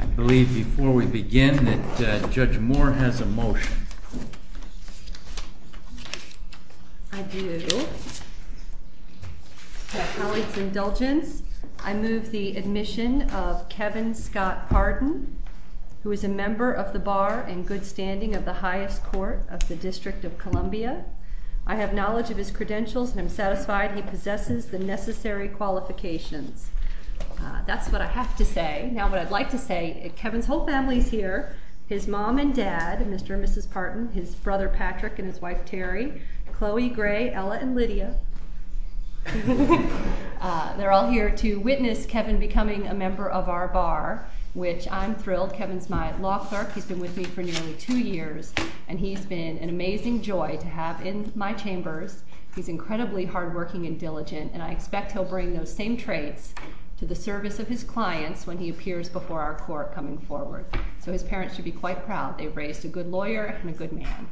I believe, before we begin, that Judge Moore has a motion. I do. To my colleague's indulgence, I move the admission of Kevin Scott Hardin, who is a member of the bar and good standing of the highest court of the District of Columbia. I have knowledge of his credentials, and I'm satisfied he possesses the necessary qualifications. That's what I have to say. Now, what I'd like to say, Kevin's whole family's here. His mom and dad, Mr. and Mrs. Parton, his brother Patrick and his wife Terry, Chloe, Gray, Ella, and Lydia, they're all here to witness Kevin becoming a member of our bar, which I'm thrilled. Kevin's my law clerk. He's been with me for nearly two years, and he's been an amazing joy to have in my chambers. He's incredibly hardworking and diligent, and I expect he'll bring those same traits to the service of his clients when he appears before our court coming forward. So his parents should be quite proud. They've raised a good lawyer and a good man.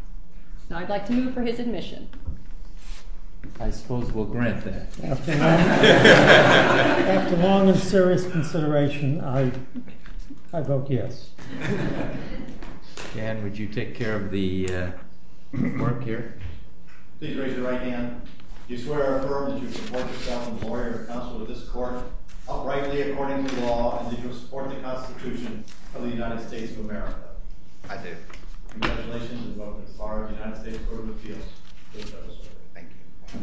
Now, I'd like to move for his admission. I suppose we'll grant that. After long and serious consideration, I vote yes. Dan, would you take care of the work here? Please raise your right hand. Do you swear or affirm that you support yourself and the lawyer and counsel of this court outrightly according to law, and that you will support the Constitution of the United States of America? I do. Congratulations, and welcome to the bar of the United States Court of Appeals. Please have a seat. Thank you.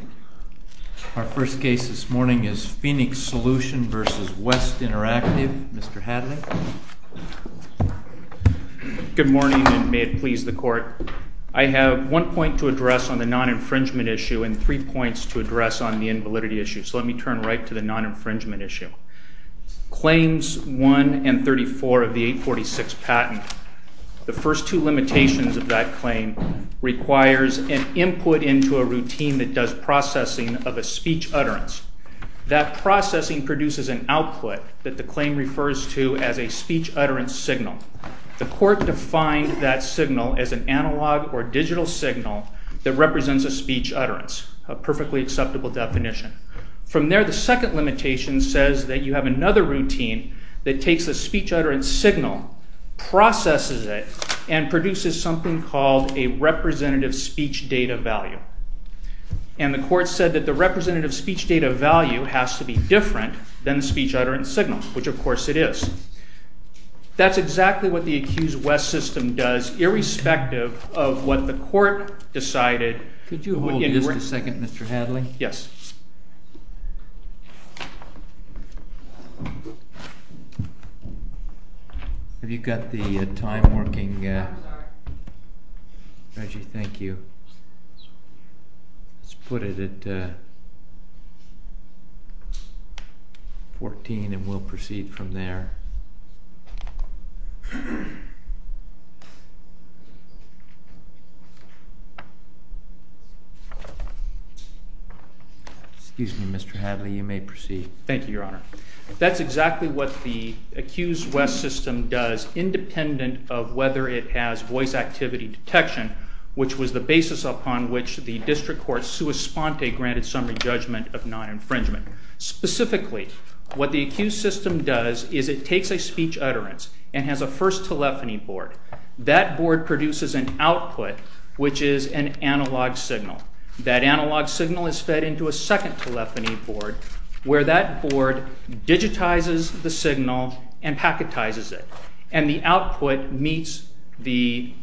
Our first case this morning is Phoenix Solution versus West Interactive. Mr. Hadley? Good morning, and may it please the court. I have one point to address on the non-infringement issue and three points to address on the invalidity issue. So let me turn right to the non-infringement issue. Claims 1 and 34 of the 846 patent, the first two limitations of that claim requires an input into a routine that does processing of a speech utterance. That processing produces an output that the claim refers to as a speech utterance signal. The court defined that signal as an analog or digital signal that represents a speech utterance, a perfectly acceptable definition. From there, the second limitation says that you have another routine that takes a speech utterance signal, processes it, and produces something called a representative speech data value. And the court said that the representative speech data value has to be different than the speech utterance signal, which of course it is. That's exactly what the accused West system does, irrespective of what the court decided. Could you hold me just a second, Mr. Hadley? Yes. Have you got the time working? Reggie, thank you. Let's put it at 14 and we'll proceed from there. Excuse me, Mr. Hadley. You may proceed. Thank you, Your Honor. That's exactly what the accused West system does, independent of whether it has voice activity detection, which was the basis upon which the district court sui sponte granted summary judgment of non-infringement. Specifically, what the accused system does That's the first telephony board that board produces an output, which is an analog signal. That analog signal is fed into a second telephony board, where that board digitizes the signal and packetizes it. And the output meets the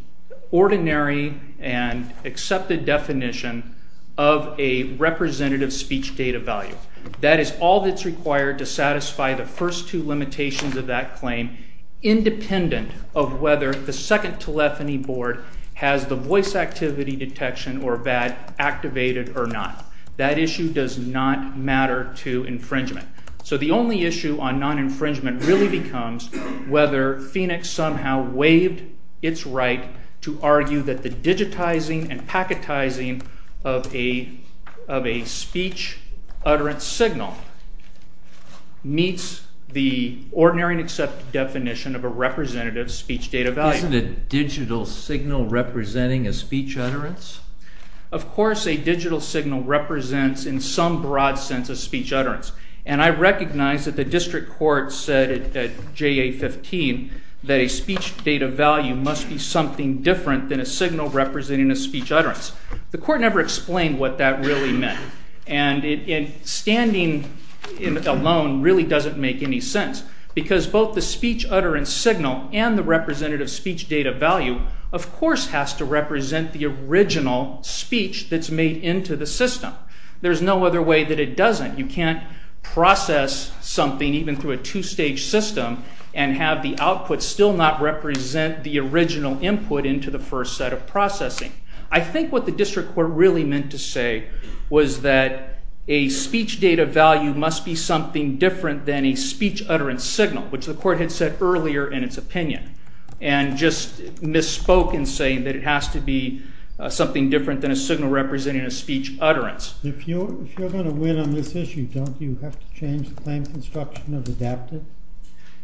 ordinary and accepted definition of a representative speech data value. That is all that's required to satisfy the first two limitations of that claim, independent of whether the second telephony board has the voice activity detection or VAD activated or not. That issue does not matter to infringement. So the only issue on non-infringement really becomes whether Phoenix somehow waived its right to argue that the digitizing and packetizing of a speech utterance signal meets the ordinary and accepted definition of a representative speech data value. Isn't a digital signal representing a speech utterance? Of course, a digital signal represents, in some broad sense, a speech utterance. And I recognize that the district court said at JA-15 that a speech data value must be something different than a signal representing a speech utterance. The court never explained what that really meant. And standing alone really doesn't make any sense, because both the speech utterance signal and the representative speech data value, of course, has to represent the original speech that's made into the system. There's no other way that it doesn't. You can't process something even through a two-stage system and have the output still not represent the original input into the first set of processing. I think what the district court really meant to say was that a speech data value must be something different than a speech utterance signal, which the court had said earlier in its opinion. And just misspoke in saying that it has to be something different than a signal representing a speech utterance. If you're going to win on this issue, don't you have to change the claim construction of adapted?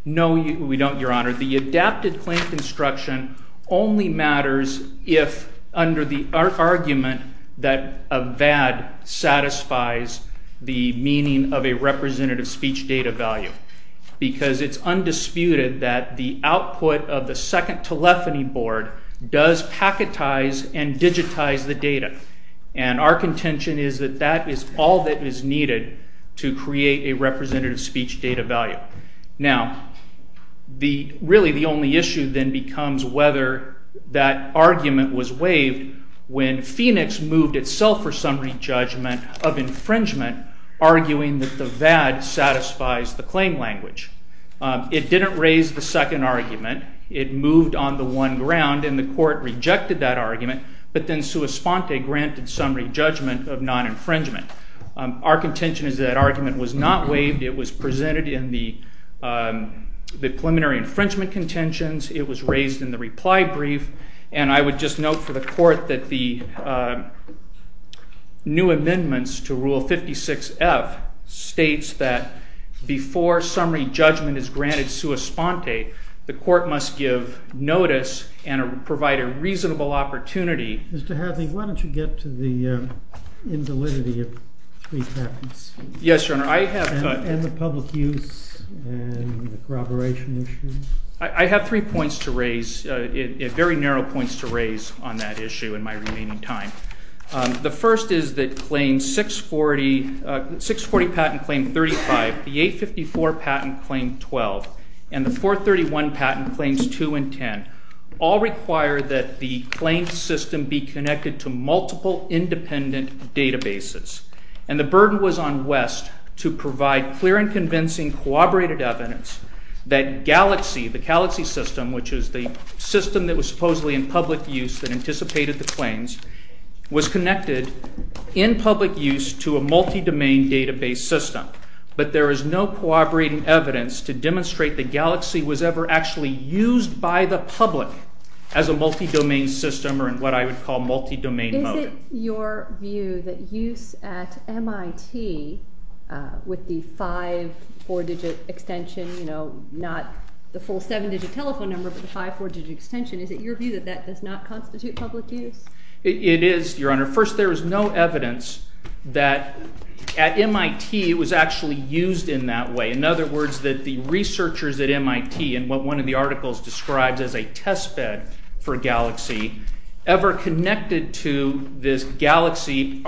No, we don't, Your Honor. The adapted claim construction only matters if, under the argument that a VAD satisfies the meaning of a representative speech data value, because it's undisputed that the output of the second telephony board does packetize and digitize the data. And our contention is that that is all that is needed to create a representative speech data value. Now, really, the only issue then becomes whether that argument was waived when Phoenix moved itself for some re-judgment of infringement, arguing that the VAD satisfies the claim language. It didn't raise the second argument. It moved on the one ground, and the court rejected that argument. But then sua sponte granted some re-judgment of non-infringement. Our contention is that argument was not waived. It was presented in the preliminary infringement contentions. It was raised in the reply brief. And I would just note for the court that the new amendments to Rule 56F states that before summary judgment is granted sua sponte, the court must give notice and provide a reasonable opportunity. Mr. Hadley, why don't you get to the invalidity of three patents? Yes, Your Honor, I have to. I have three points to raise. It's very narrow points to raise on that issue in my remaining time. The first is that 640 patent claim 35, the 854 patent claim 12, and the 431 patent claims 2 and 10 all require that the claim system be connected to multiple independent databases. And the burden was on West to provide clear and convincing corroborated evidence that Galaxy, the Galaxy system, which is the system that was supposedly in public use that anticipated the claims, was connected in public use to a multi-domain database system. But there is no corroborating evidence to demonstrate that Galaxy was ever actually used by the public as a multi-domain system or in what I would call multi-domain mode. Is it your view that use at MIT with the five four-digit extension, not the full seven-digit telephone number, but the five four-digit extension, is it your view that that does not constitute public use? It is, Your Honor. First, there is no evidence that at MIT it was actually used in that way. In other words, that the researchers at MIT and what one of the articles describes as a testbed for Galaxy ever connected to this Galaxy,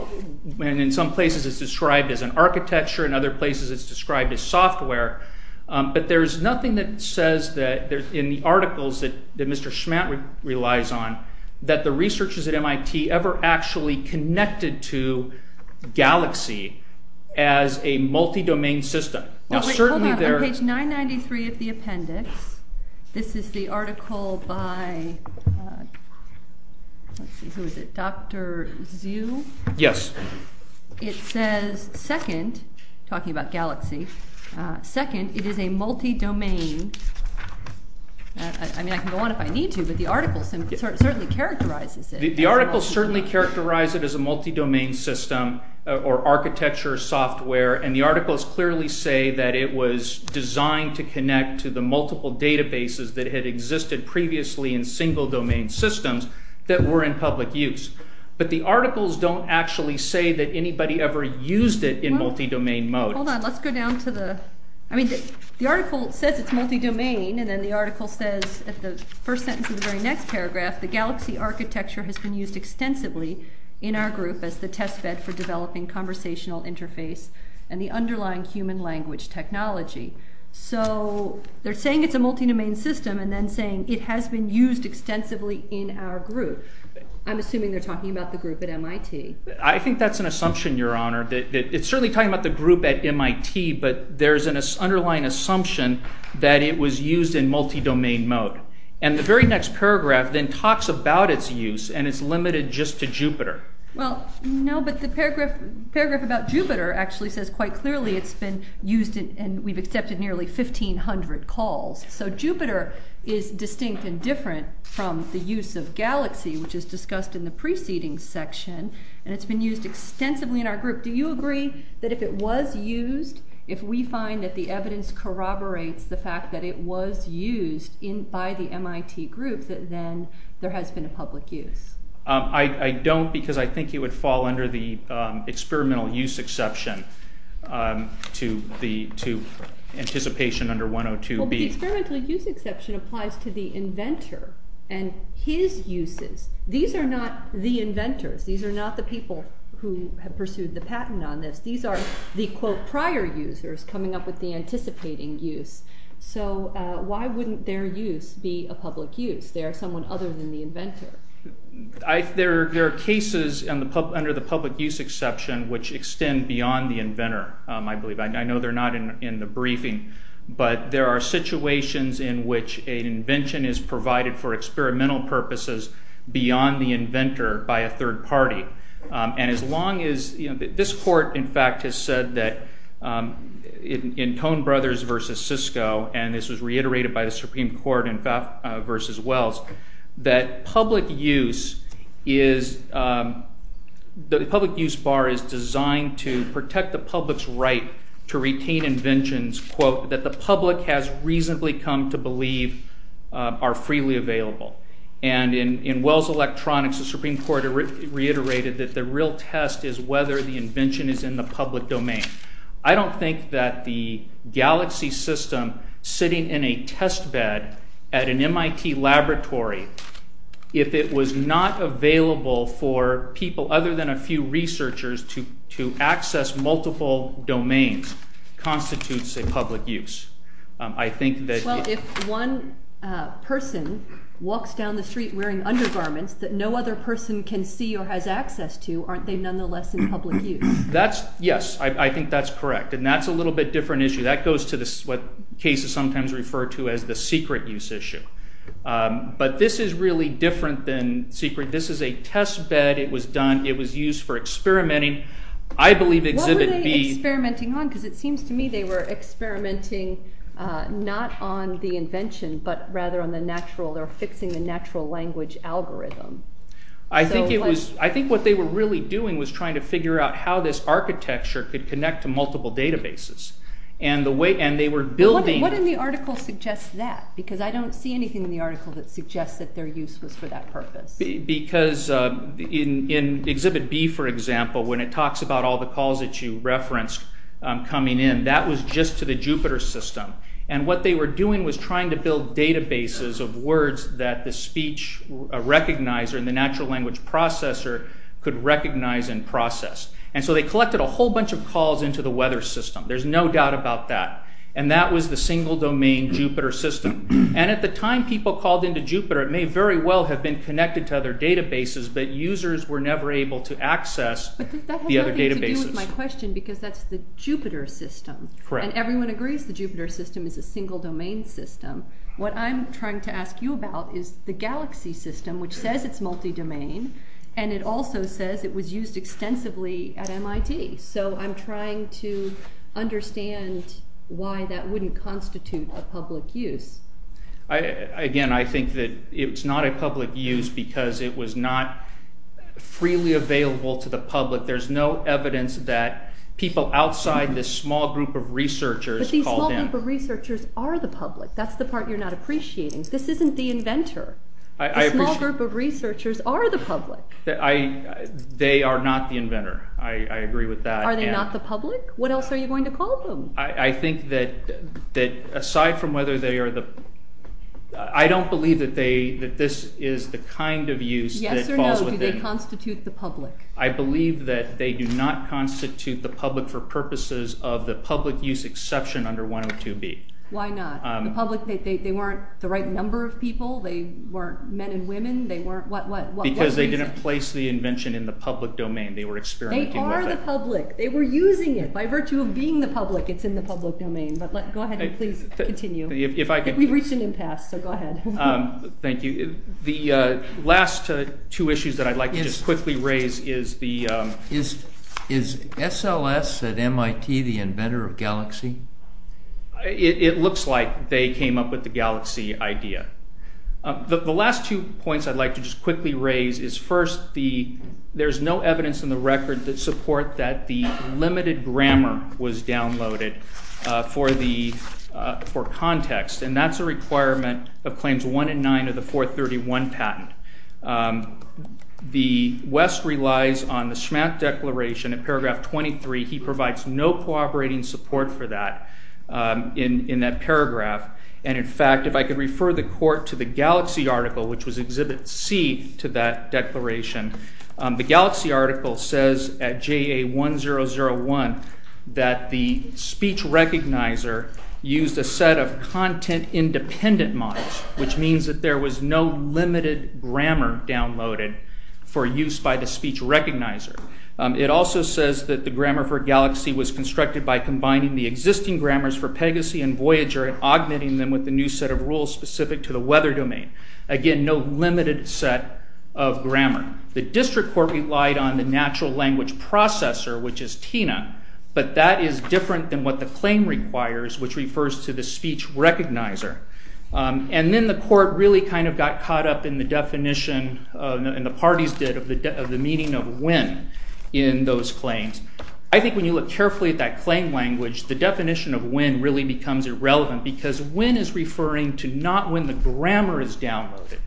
and in some places it's described as an architecture, in other places it's described as software. But there's nothing that says in the articles that Mr. Schmatt relies on that the researchers at MIT ever actually connected to Galaxy as a multi-domain system. Now, certainly there are. On page 993 of the appendix, this is the article by, let's see, who is it, Dr. Zhu? Yes. It says, second, talking about Galaxy, second, it is a multi-domain. I mean, I can go on if I need to, but the article certainly characterizes it. The article certainly characterized it as a multi-domain system or architecture software. And the articles clearly say that it was designed to connect to the multiple databases that had existed previously in single domain systems that were in public use. But the articles don't actually say that anybody ever used it in multi-domain mode. Hold on, let's go down to the, I mean, the article says it's multi-domain, and then the article says, at the first sentence of the very next paragraph, the Galaxy architecture has been used extensively in our group as the testbed for developing conversational interface and the underlying human language technology. So they're saying it's a multi-domain system and then saying it has been used extensively in our group. I'm assuming they're talking about the group at MIT. I think that's an assumption, Your Honor. It's certainly talking about the group at MIT, but there's an underlying assumption that it was used in multi-domain mode. And the very next paragraph then talks about its use, and it's limited just to Jupyter. Well, no, but the paragraph about Jupyter actually says quite clearly it's been used, and we've accepted nearly 1,500 calls. So Jupyter is distinct and different from the use of Galaxy, which is discussed in the preceding section, and it's been used extensively in our group. Do you agree that if it was used, if we find that the evidence corroborates the fact that it was used by the MIT group, that then there has been a public use? I don't, because I think it would fall under the experimental use exception to anticipation under 102B. The experimental use exception applies to the inventor and his uses. These are not the inventors. These are not the people who have pursued the patent on this. These are the, quote, prior users coming up with the anticipating use. So why wouldn't their use be a public use? They are someone other than the inventor. There are cases under the public use exception which extend beyond the inventor, I believe. I know they're not in the briefing, but there are situations in which an invention is provided for experimental purposes beyond the inventor by a third party. And as long as, this court, in fact, has said that in Tone Brothers versus Cisco, and this was reiterated by the Supreme Court in Faf versus Wells, that public use is, the public use bar is designed to protect the public's right to retain inventions, quote, that the public has reasonably come to believe are freely available. And in Wells Electronics, the Supreme Court reiterated that the real test is whether the invention is in the public domain. I don't think that the Galaxy system sitting in a test bed at an MIT laboratory, if it was not available for people other than a few researchers to access multiple domains, constitutes a public use. I think that- Well, if one person walks down the street wearing undergarments that no other person can see or has access to, aren't they nonetheless in public use? That's, yes, I think that's correct. And that's a little bit different issue. That goes to what cases sometimes refer to as the secret use issue. But this is really different than secret. This is a test bed. It was used for experimenting. I believe exhibit B- What were they experimenting on? Because it seems to me they were experimenting not on the invention, but rather on the natural, or fixing the natural language algorithm. I think what they were really doing was trying to figure out how this architecture could connect to multiple databases. And they were building- What in the article suggests that? Because I don't see anything in the article that suggests that their use was for that purpose. Because in exhibit B, for example, when it talks about all the calls that you referenced coming in, that was just to the Jupiter system. And what they were doing was trying to build databases of words that the speech recognizer and the natural language processor could recognize and process. And so they collected a whole bunch of calls into the weather system. There's no doubt about that. And that was the single domain Jupiter system. And at the time people called into Jupiter, it may very well have been connected to other databases, but users were never able to access the other databases. But that has nothing to do with my question because that's the Jupiter system. Correct. And everyone agrees the Jupiter system is a single domain system. What I'm trying to ask you about is the Galaxy system, which says it's multi-domain, and it also says it was used extensively at MIT. So I'm trying to understand why that wouldn't constitute a public use. Again, I think that it's not a public use because it was not freely available to the public. There's no evidence that people outside this small group of researchers called in. But these small group of researchers are the public. That's the part you're not appreciating. This isn't the inventor. The small group of researchers are the public. They are not the inventor. I agree with that. Are they not the public? What else are you going to call them? I think that aside from whether I don't believe that this is the kind of use that falls within. Yes or no, do they constitute the public? I believe that they do not constitute the public for purposes of the public use exception under 102B. Why not? The public, they weren't the right number of people. They weren't men and women. They weren't, what reason? Because they didn't place the invention in the public domain. They were experimenting with it. They are the public. They were using it by virtue of being the public. It's in the public domain. But go ahead and please continue. We've reached an impasse, so go ahead. Thank you. The last two issues that I'd like to just quickly raise is the... Is SLS at MIT the inventor of Galaxy? It looks like they came up with the Galaxy idea. The last two points I'd like to just quickly raise is first, there's no evidence in the record that support that the limited grammar was downloaded for context, and that's a requirement of Claims 1 and 9 of the 431 patent. The West relies on the Schmack Declaration in paragraph 23. He provides no cooperating support for that in that paragraph, and in fact, if I could refer the court to the Galaxy article, which was Exhibit C to that declaration, the Galaxy article says at JA1001 that the speech recognizer used a set of content-independent models, which means that there was no limited grammar downloaded for use by the speech recognizer. It also says that the grammar for Galaxy was constructed by combining the existing grammars for Pegasy and Voyager and augmenting them with a new set of rules specific to the weather domain. Again, no limited set of grammar. The district court relied on the natural language processor, which is TINA, but that is different than what the claim requires, which refers to the speech recognizer. And then the court really kind of got caught up in the definition, and the parties did, of the meaning of when in those claims. I think when you look carefully at that claim language, the definition of when really becomes irrelevant because when is referring to not when the grammar is downloaded,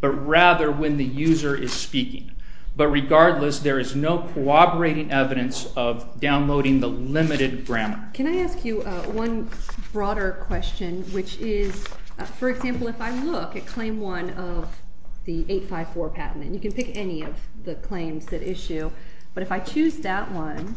but rather when the user is speaking. But regardless, there is no corroborating evidence of downloading the limited grammar. Can I ask you one broader question, which is, for example, if I look at claim one of the 854 patent, and you can pick any of the claims that issue, but if I choose that one,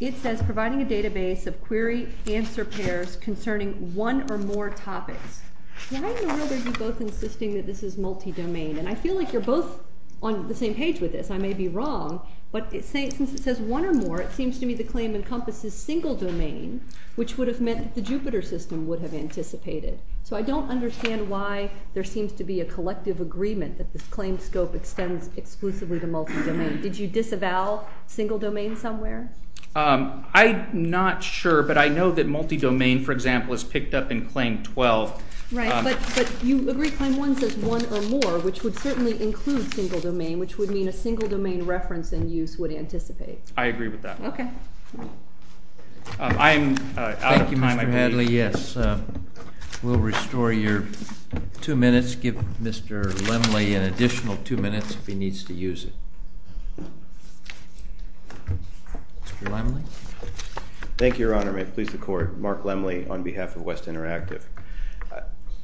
it says providing a database of query-answer pairs concerning one or more topics. Why in the world are you both insisting that this is multi-domain? And I feel like you're both on the same page with this. I may be wrong, but since it says one or more, it seems to me the claim encompasses single-domain, which would have meant that the Jupyter system would have anticipated. So I don't understand why there seems to be a collective agreement that this claim scope extends exclusively to multi-domain. Did you disavow single-domain somewhere? I'm not sure, but I know that multi-domain, for example, is picked up in claim 12. Right, but you agree claim one says one or more, which would certainly include single-domain, which would mean a single-domain reference and use would anticipate. I agree with that. OK. I'm out of time. Thank you, Mr. Hadley. Yes. We'll restore your two minutes. Give Mr. Lemley an additional two minutes if he needs to use it. Mr. Lemley? Thank you, Your Honor. May it please the Court. Mark Lemley on behalf of West Interactive.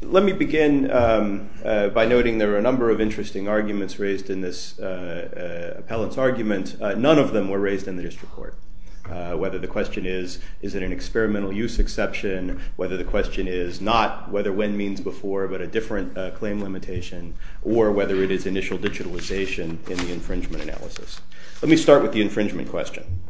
Let me begin by noting there are a number of interesting arguments raised in this appellant's argument. None of them were raised in the district court, whether the question is, is it an experimental use exception, whether the question is not whether when means before, but a different claim limitation, or whether it is initial digitalization in the infringement analysis. Let me start with the infringement question.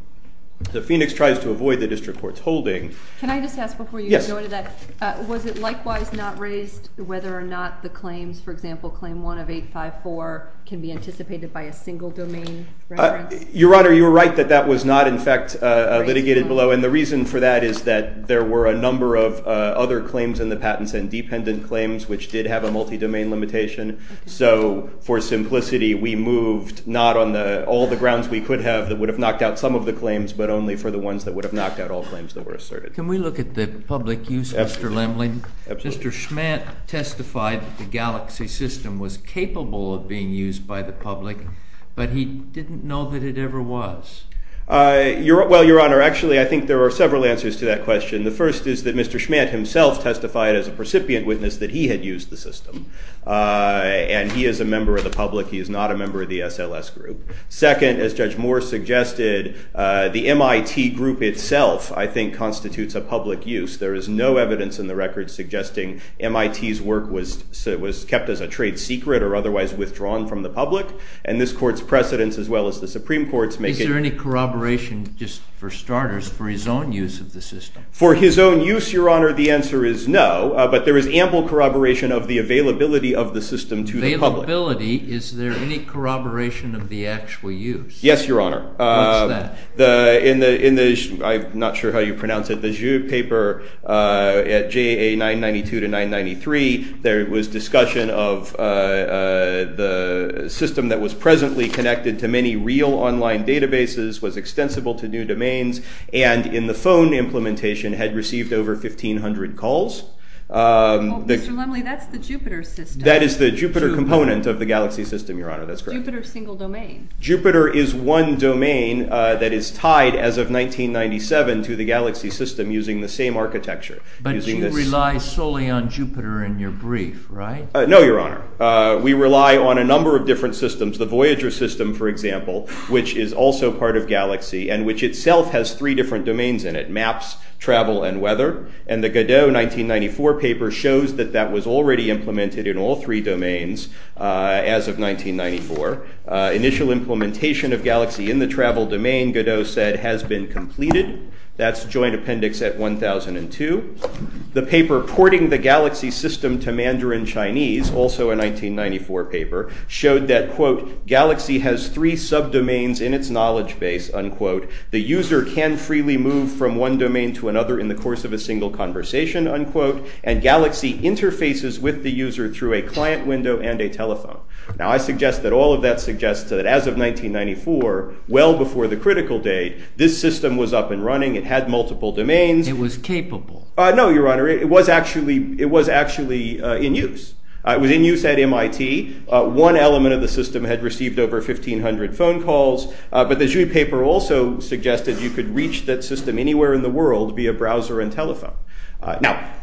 The Phoenix tries to avoid the district court's holding. Can I just ask before you go to that, was it likewise not raised whether or not the claims, for example, claim 1 of 854, can be anticipated by a single domain reference? Your Honor, you're right that that was not, in fact, litigated below. And the reason for that is that there were a number of other claims in the patents and dependent claims which did have a multi-domain limitation. So for simplicity, we moved not on all the grounds we could have that would have knocked out some of the claims, but only for the ones that would have knocked out all claims that were asserted. Can we look at the public use? Mr. Schmantt testified that the Galaxy system was capable of being used by the public, but he didn't know that it ever was. Well, Your Honor, actually, I think there are several answers to that question. The first is that Mr. Schmantt himself testified as a precipient witness that he had used the system. And he is a member of the public. He is not a member of the SLS group. Second, as Judge Moore suggested, the MIT group itself, I think, constitutes a public use. There is no evidence in the record suggesting MIT's work was kept as a trade secret or otherwise withdrawn from the public. And this court's precedents, as well as the Supreme Court's, make it- Is there any corroboration, just for starters, for his own use of the system? For his own use, Your Honor, the answer is no. But there is ample corroboration of the availability of the system to the public. Availability? Is there any corroboration of the actual use? Yes, Your Honor. What's that? I'm not sure how you pronounce it. The paper at JA 992 to 993, there was discussion of the system that was presently connected to many real online databases, was extensible to new domains, and in the phone implementation had received over 1,500 calls. Well, Mr. Lumley, that's the Jupiter system. That is the Jupiter component of the galaxy system, Your Honor. That's correct. Jupiter single domain. Jupiter is one domain that is tied, as of 1997, to the galaxy system using the same architecture. But you rely solely on Jupiter in your brief, right? No, Your Honor. We rely on a number of different systems. The Voyager system, for example, which is also part of galaxy and which itself has three different domains in it, maps, travel, and weather. And the Godot 1994 paper shows that that was already implemented in all three domains as of 1994. Initial implementation of galaxy in the travel domain, Godot said, has been completed. That's joint appendix at 1002. The paper porting the galaxy system to Mandarin Chinese, also a 1994 paper, showed that, quote, galaxy has three subdomains in its knowledge base, unquote. The user can freely move from one domain to another in the course of a single conversation, unquote. And galaxy interfaces with the user through a client window and a telephone. Now, I suggest that all of that suggests that as of 1994, well before the critical date, this system was up and running. It had multiple domains. It was capable. No, Your Honor. It was actually in use. It was in use at MIT. One element of the system had received over 1,500 phone calls. But the Xu paper also suggested you could reach that system anywhere in the world via browser and telephone. Now,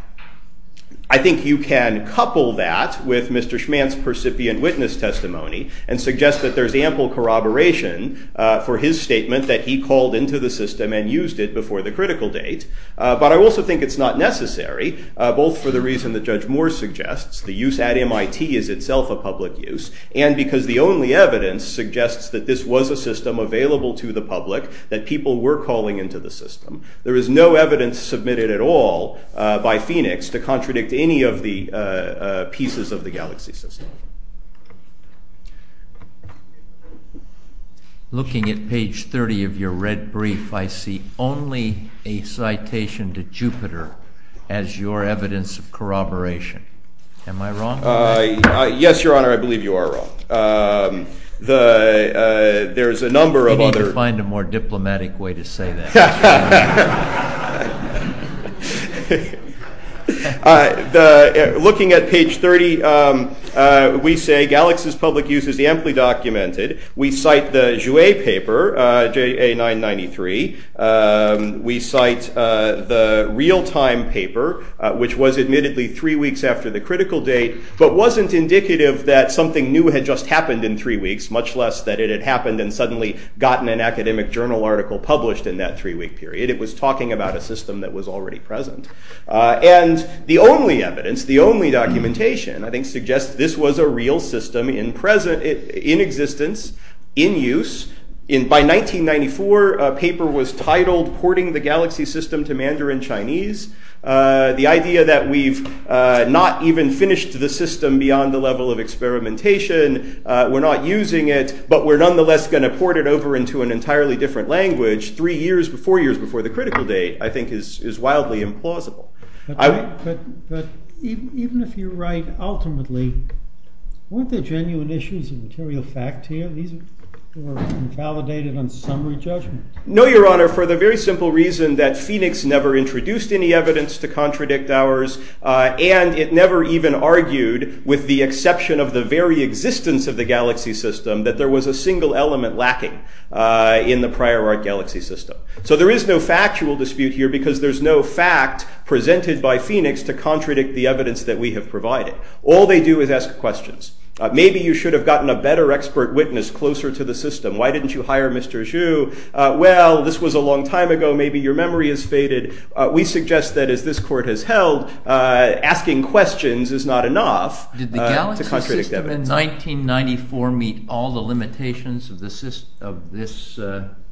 I think you can couple that with Mr. Schmantz' percipient witness testimony and suggest that there's ample corroboration for his statement that he called into the system and used it before the critical date. But I also think it's not necessary, both for the reason that Judge Moore suggests, the use at MIT is itself a public use, and because the only evidence suggests that this was a system available to the public, that people were calling into the system. There is no evidence submitted at all by Phoenix to contradict any of the pieces of the galaxy system. Looking at page 30 of your red brief, I see only a citation to Jupiter as your evidence of corroboration. Am I wrong? Yes, Your Honor. I believe you are wrong. There's a number of other. You need to find a more diplomatic way to say that, Mr. Schmantz. Yeah. Looking at page 30, we say, Galaxy's public use is amply documented. We cite the Jouet paper, JA993. We cite the real-time paper, which was admittedly three weeks after the critical date, but wasn't indicative that something new had just happened in three weeks, much less that it had happened and suddenly gotten an academic journal article published in that three-week period. It was talking about a system that was already present. And the only evidence, the only documentation, I think, suggests this was a real system in existence, in use. By 1994, a paper was titled Porting the Galaxy System to Mandarin Chinese. The idea that we've not even finished the system beyond the level of experimentation, we're not using it, but we're nonetheless going to port it over into an entirely different language three years, four years before the critical date, I think, is wildly implausible. But even if you're right, ultimately, weren't there genuine issues of material fact here? These were invalidated on summary judgment. No, Your Honor, for the very simple reason that Phoenix never introduced any evidence to contradict ours, and it never even argued, with the exception of the very existence of the galaxy system, that there was a single element lacking in the prior art galaxy system. So there is no factual dispute here, because there's no fact presented by Phoenix to contradict the evidence that we have provided. All they do is ask questions. Maybe you should have gotten a better expert witness closer to the system. Why didn't you hire Mr. Zhu? Well, this was a long time ago. Maybe your memory has faded. We suggest that, as this court has held, asking questions is not enough to contradict evidence. Did the galaxy system in 1994 meet all the limitations of this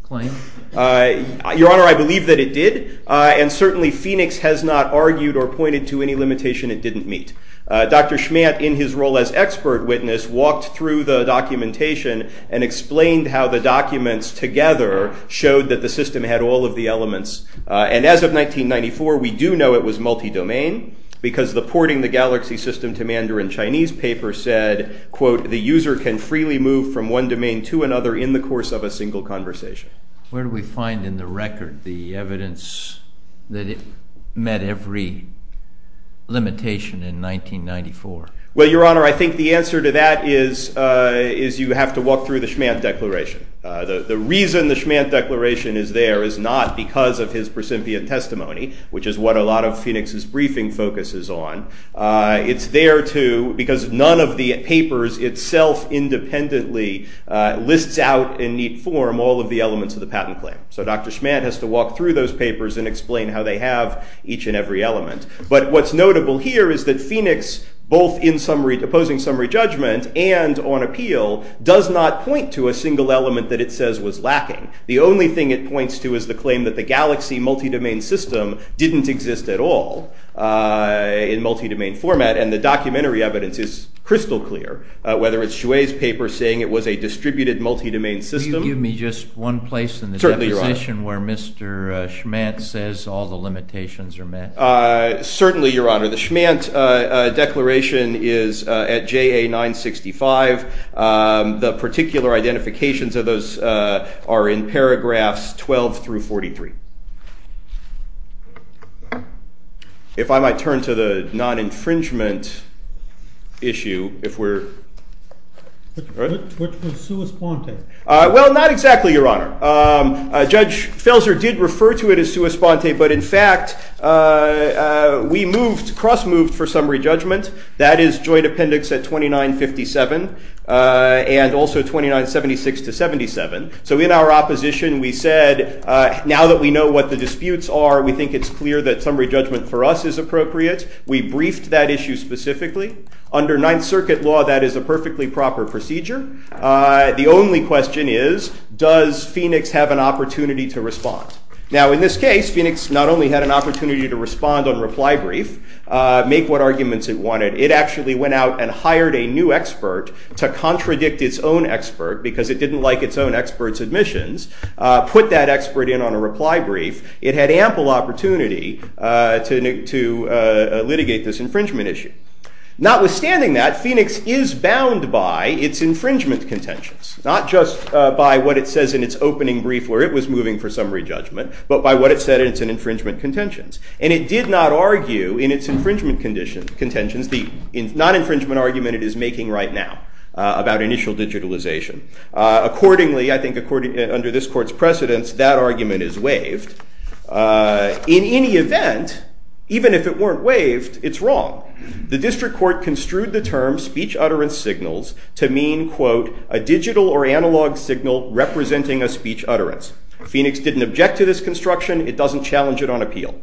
claim? Your Honor, I believe that it did. And certainly, Phoenix has not argued or pointed to any limitation it didn't meet. Dr. Schmadt, in his role as expert witness, walked through the documentation and explained how the documents together showed that the system had all of the elements. And as of 1994, we do know it was multi-domain, because the porting the galaxy system to Mandarin Chinese paper said, quote, the user can freely move from one domain to another in the course of a single conversation. Where do we find in the record the evidence that it met every limitation in 1994? Well, Your Honor, I think the answer to that is you have to walk through the Schmadt declaration. The reason the Schmadt declaration is there is not because of his prescindent testimony, which is what a lot of Phoenix's briefing focuses on. It's there, too, because none of the papers itself independently lists out in neat form all of the elements of the patent claim. So Dr. Schmadt has to walk through those papers and explain how they have each and every element. But what's notable here is that Phoenix, both in opposing summary judgment and on appeal, does not point to a single element that it says was lacking. The only thing it points to is the claim that the galaxy multi-domain system didn't exist at all in multi-domain format. And the documentary evidence is crystal clear, whether it's Chouet's paper saying it was a distributed multi-domain system. Will you give me just one place in the deposition where Mr. Schmadt says all the limitations are met? Certainly, Your Honor. The Schmadt declaration is at JA 965. The particular identifications of those are in paragraphs 12 through 43. If I might turn to the non-infringement issue, if we're all right. Which was sua sponte? Well, not exactly, Your Honor. Judge Felzer did refer to it as sua sponte. But in fact, we moved, cross-moved for summary judgment. That is joint appendix at 2957 and also 2976 to 77. So in our opposition, we said, now that we know what the disputes are, we think it's clear that summary judgment for us is appropriate. We briefed that issue specifically. Under Ninth Circuit law, that is a perfectly proper procedure. The only question is, does Phoenix have an opportunity to respond? Now, in this case, Phoenix not only had an opportunity to respond on reply brief, make what arguments it wanted, it actually went out and hired a new expert to contradict its own expert because it didn't like its own expert's admissions, put that expert in on a reply brief. It had ample opportunity to litigate this infringement issue. Notwithstanding that, Phoenix is bound by its infringement contentions, not just by what it says in its opening brief where it was moving for summary judgment, but by what it said in its infringement contentions. And it did not argue in its infringement contentions the non-infringement argument it is making right now about initial digitalization. Accordingly, I think under this court's precedence, that argument is waived. In any event, even if it weren't waived, it's wrong. The district court construed the term speech utterance signals to mean, quote, a digital or analog signal representing a speech utterance. Phoenix didn't object to this construction. It doesn't challenge it on appeal.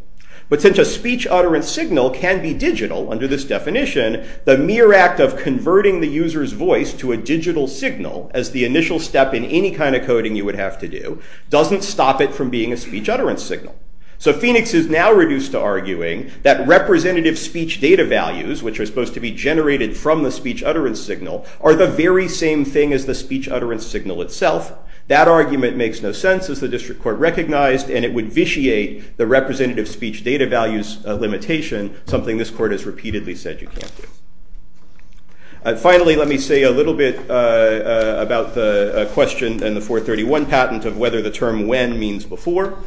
But since a speech utterance signal can be digital under this definition, the mere act of converting the user's voice to a digital signal as the initial step in any kind of coding you would have to do doesn't stop it from being a speech utterance signal. So Phoenix is now reduced to arguing that representative speech data values, which are supposed to be generated from the speech utterance signal, are the very same thing as the speech utterance signal itself. That argument makes no sense, as the district court recognized. And it would vitiate the representative speech data values limitation, something this court has repeatedly said you can't do. Finally, let me say a little bit about the question in the 431 patent of whether the term when means before.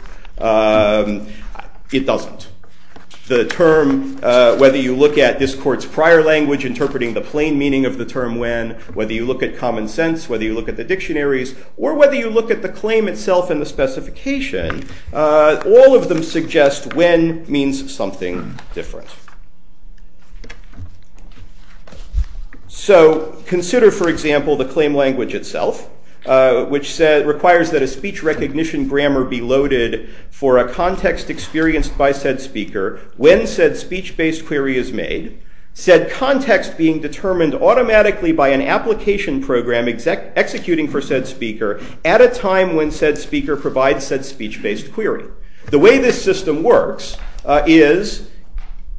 It doesn't. The term, whether you look at this court's prior language interpreting the plain meaning of the term when, whether you look at common sense, whether you look at the dictionaries, or whether you look at the claim itself and the specification, all of them suggest when means something different. So consider, for example, the claim language itself, which requires that a speech recognition grammar be loaded for a context experienced by said speaker when said speech based query is made, said context being determined automatically by an application program executing for said speaker at a time when said speaker provides The way this system works is you have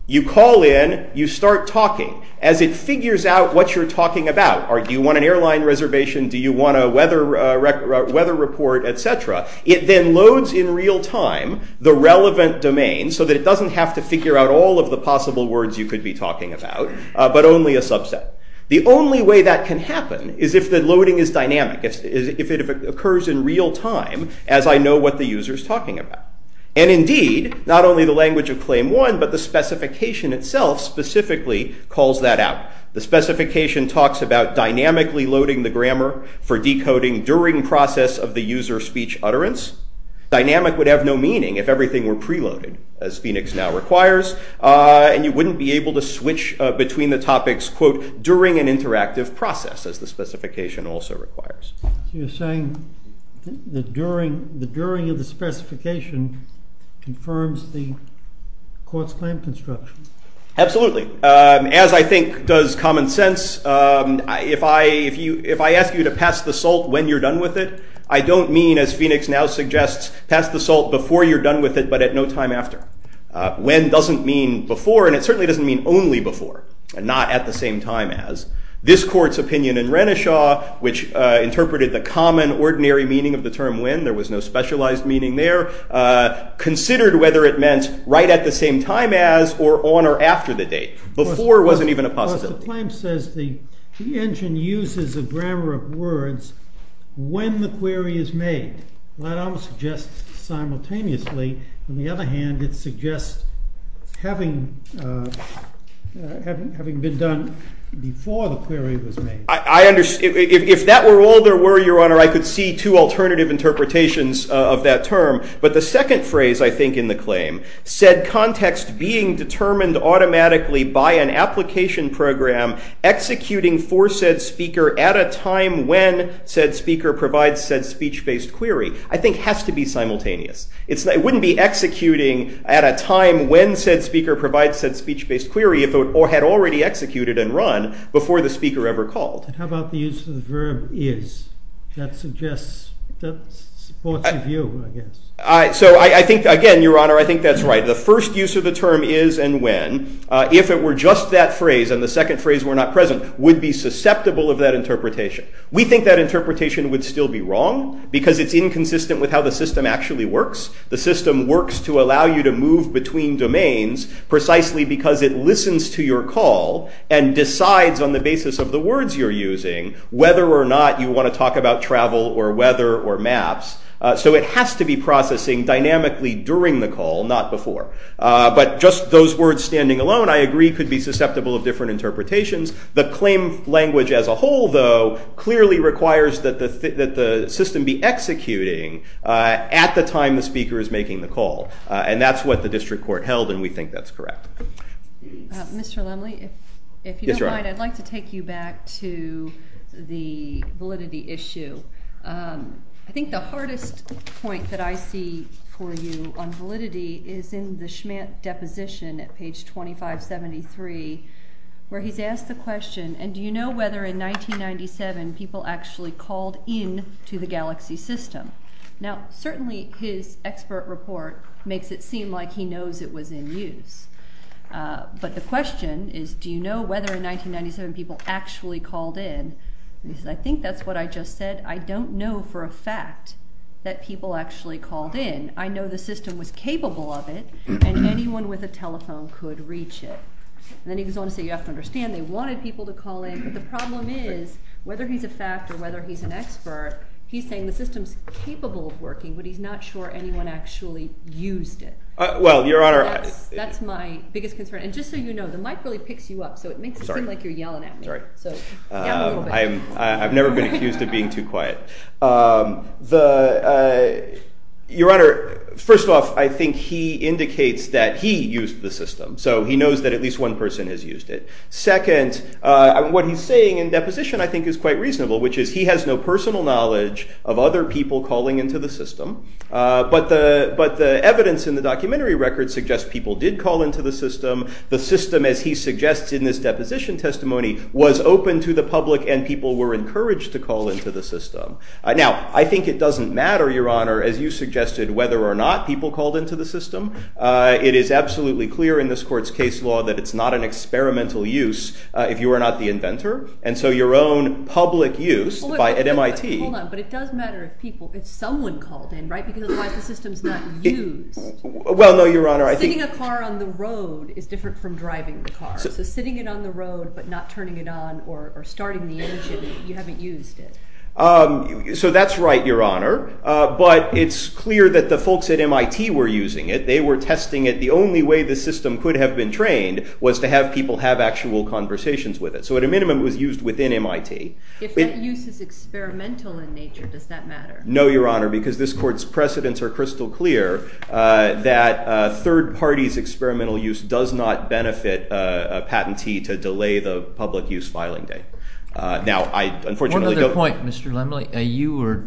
you call in, you start talking. As it figures out what you're talking about, do you want an airline reservation, do you want a weather report, et cetera, it then loads in real time the relevant domain so that it doesn't have to figure out all of the possible words you could be talking about, but only a subset. The only way that can happen is if the loading is dynamic, is if it occurs in real time as I know what the user is talking about. And indeed, not only the language of claim one, but the specification itself specifically calls that out. The specification talks about dynamically loading the grammar for decoding during process of the user speech utterance. Dynamic would have no meaning if everything were preloaded, as Phoenix now requires. And you wouldn't be able to switch between the topics, quote, during an interactive process, as the specification also requires. You're saying that the during of the specification confirms the court's claim construction. Absolutely. As I think does common sense, if I ask you to pass the salt when you're done with it, I don't mean, as Phoenix now suggests, pass the salt before you're done with it, but at no time after. When doesn't mean before, and it certainly doesn't mean only before, and not at the same time as. This court's opinion in Renishaw, which interpreted the common ordinary meaning of the term when, there was no specialized meaning there, considered whether it meant right at the same time as or on or after the date. Before wasn't even a possibility. The claim says the engine uses a grammar of words when the query is made. That almost suggests simultaneously. On the other hand, it suggests having been done before the query was made. If that were all there were, Your Honor, I could see two alternative interpretations of that term. But the second phrase, I think, in the claim, said context being determined automatically by an application program executing for said speaker at a time when said speaker provides said speech-based query, I think has to be simultaneous. It wouldn't be executing at a time when said speaker provides said speech-based query if it had already executed and run before the speaker ever called. How about the use of the verb is? That suggests, that supports your view, I guess. So I think, again, Your Honor, I think that's right. The first use of the term is and when, if it were just that phrase and the second phrase were not present, would be susceptible of that interpretation. We think that interpretation would still be wrong because it's inconsistent with how the system actually works. The system works to allow you to move between domains precisely because it listens to your call and decides on the basis of the words you're using whether or not you want to talk about travel or weather or maps. So it has to be processing dynamically during the call, not before. But just those words standing alone, I agree, could be susceptible of different interpretations. The claim language as a whole, though, clearly requires that the system be executing at the time the speaker is making the call. And that's what the district court held, and we think that's correct. Mr. Lumley, if you don't mind, I'd like to take you back to the validity issue. I think the hardest point that I see for you on validity is in the Schmantt deposition at page 2573, where he's asked the question, and do you know whether in 1997 people actually called in to the galaxy system? Now, certainly his expert report makes it seem like he knows it was in use. But the question is, do you know whether in 1997 people actually called in? And he says, I think that's what I just said. I don't know for a fact that people actually called in. I know the system was capable of it, and anyone with a telephone could reach it. And then he goes on to say, you have to understand, they wanted people to call in. But the problem is, whether he's a fact or whether he's an expert, he's saying the system's capable of working, but he's not sure anyone actually used it. Well, Your Honor, I think that's my point. That's my biggest concern. And just so you know, the mic really picks you up, so it makes it seem like you're yelling at me. Sorry. I've never been accused of being too quiet. Your Honor, first off, I think he indicates that he used the system. So he knows that at least one person has used it. Second, what he's saying in deposition, I think, is quite reasonable, which is he has no personal knowledge of other people calling into the system. But the evidence in the documentary record suggests people did call into the system. The system, as he suggests in this deposition testimony, was open to the public and people were encouraged to call into the system. Now, I think it doesn't matter, Your Honor, as you suggested, whether or not people called into the system. It is absolutely clear in this court's case law that it's not an experimental use if you are not the inventor. And so your own public use at MIT. Hold on. But it does matter if someone called in, right? Because otherwise the system's not used. Well, no, Your Honor. Sitting a car on the road is different from driving the car. So sitting it on the road but not turning it on or starting the engine, you haven't used it. So that's right, Your Honor. But it's clear that the folks at MIT were using it. They were testing it. The only way the system could have been trained was to have people have actual conversations with it. So at a minimum, it was used within MIT. No, Your Honor, because this court's precedents are crystal clear that third parties' experimental use does not benefit a patentee to delay the public use filing date. Now, I unfortunately don't. One other point, Mr. Lemley. You were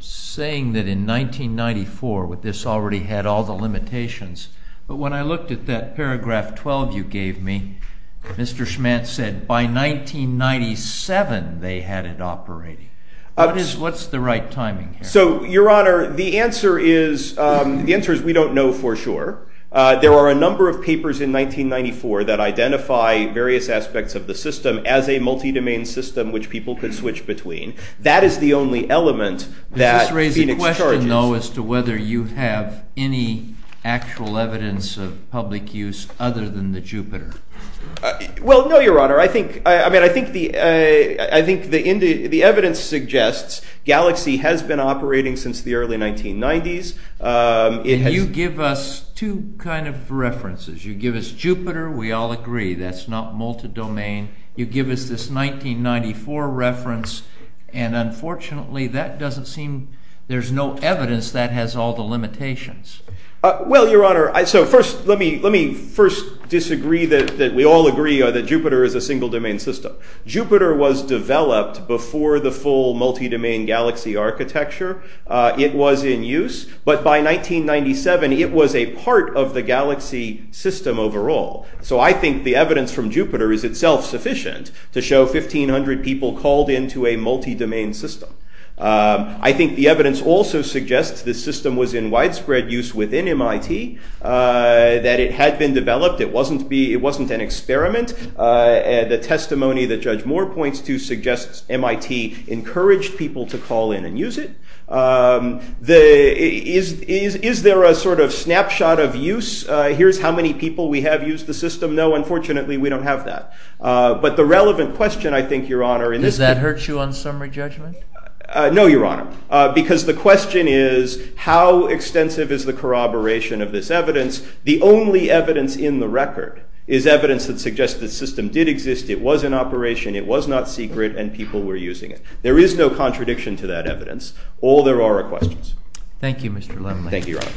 saying that in 1994 this already had all the limitations. But when I looked at that paragraph 12 you gave me, Mr. Schmantz said by 1997 they had it operating. What's the right timing here? So, Your Honor, the answer is we don't know for sure. There are a number of papers in 1994 that identify various aspects of the system as a multi-domain system which people could switch between. That is the only element that Phoenix charges. Does this raise a question, though, as to whether you have any actual evidence of public use other than the Jupiter? Well, no, Your Honor. I think the evidence suggests Galaxy has been operating since the early 1990s. And you give us two kind of references. You give us Jupiter. We all agree that's not multi-domain. You give us this 1994 reference. And unfortunately, that doesn't seem there's no evidence that has all the limitations. Well, Your Honor, so first let me first disagree that we all agree that Jupiter is a single domain system. Jupiter was developed before the full multi-domain Galaxy architecture. It was in use. But by 1997, it was a part of the Galaxy system overall. So I think the evidence from Jupiter is itself sufficient to show 1,500 people called into a multi-domain system. I think the evidence also suggests the system was in widespread use within MIT, that it had been developed. It wasn't an experiment. The testimony that Judge Moore points to suggests MIT encouraged people to call in and use it. Is there a sort of snapshot of use? Here's how many people we have used the system. No, unfortunately, we don't have that. But the relevant question, I think, Your Honor, in this case Does that hurt you on summary judgment? No, Your Honor, because the question is, how extensive is the corroboration of this evidence? The only evidence in the record is evidence that suggests the system did exist. It was in operation. It was not secret. And people were using it. There is no contradiction to that evidence. All there are are questions. Thank you, Mr. Lemley. Thank you, Your Honor.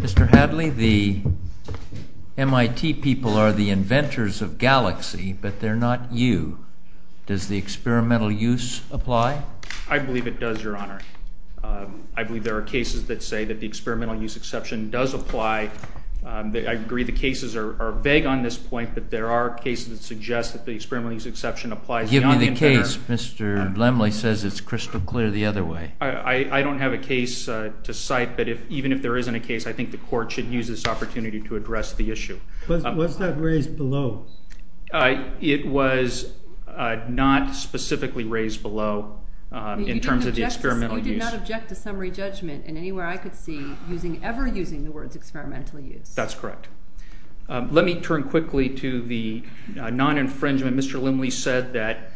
Mr. Hadley, the MIT people are the inventors of Galaxy, but they're not you. Does the experimental use apply? I believe it does, Your Honor. I believe there are cases that say that the experimental use exception does apply. I agree the cases are vague on this point, but there are cases that suggest that the experimental use exception applies. Give me the case. Mr. Lemley says it's crystal clear the other way. I don't have a case to cite, but even if there isn't a case, I think the court should use this opportunity to address the issue. Was that raised below? It was not specifically raised below in terms of the experimental use. You did not object to summary judgment in anywhere I could see ever using the words experimental use. That's correct. Let me turn quickly to the non-infringement. Mr. Lemley said that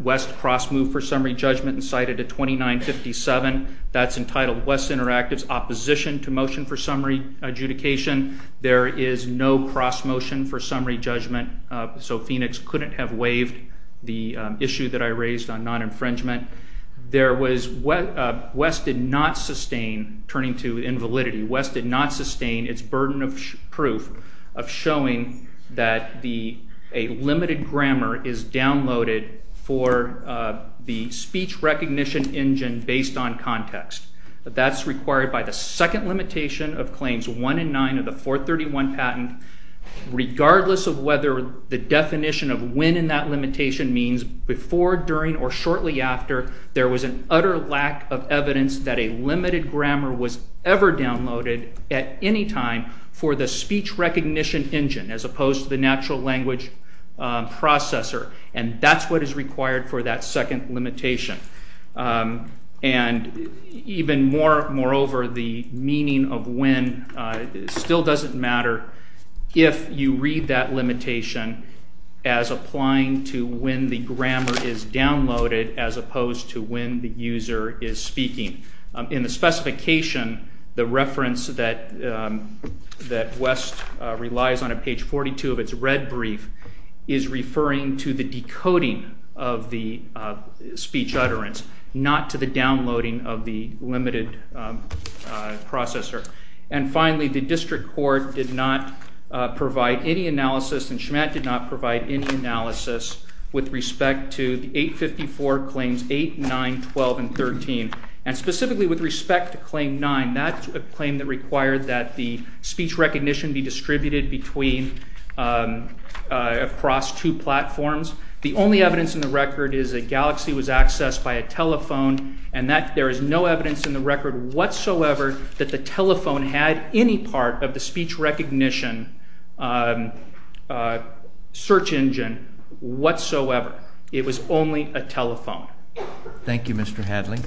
West cross-moved for summary judgment and cited a 2957. That's entitled West's Interactive's Opposition to Motion for Summary Adjudication. There is no cross-motion for summary judgment, so Phoenix couldn't have waived the issue that I raised on non-infringement. There was, West did not sustain, turning to invalidity, West did not sustain its burden of proof of showing that a limited grammar is downloaded for the speech recognition engine based on context. That's required by the second limitation of Claims 1 and 9 of the 431 patent, regardless of whether the definition of when in that limitation means before, during, or shortly after, there was an utter lack of evidence that a limited grammar was ever downloaded at any time for the speech recognition engine, as opposed to the natural language processor. And that's what is required for that second limitation. And even more, moreover, the meaning of when still doesn't matter if you read that limitation as applying to when the grammar is downloaded, as opposed to when the user is speaking. In the specification, the reference that West relies on at page 42 of its red brief is referring to the decoding of the speech utterance, not to the downloading of the limited processor. And finally, the district court did not provide any analysis, and CHMAT did not provide any analysis with respect to the 854 Claims 8, 9, 12, and 13. And specifically with respect to Claim 9, that's a claim that required that the speech recognition be distributed across two platforms. The only evidence in the record is that Galaxy was accessed by a telephone. And there is no evidence in the record whatsoever that the telephone had any part of the speech recognition search engine whatsoever. It was only a telephone. Thank you, Mr. Hadley.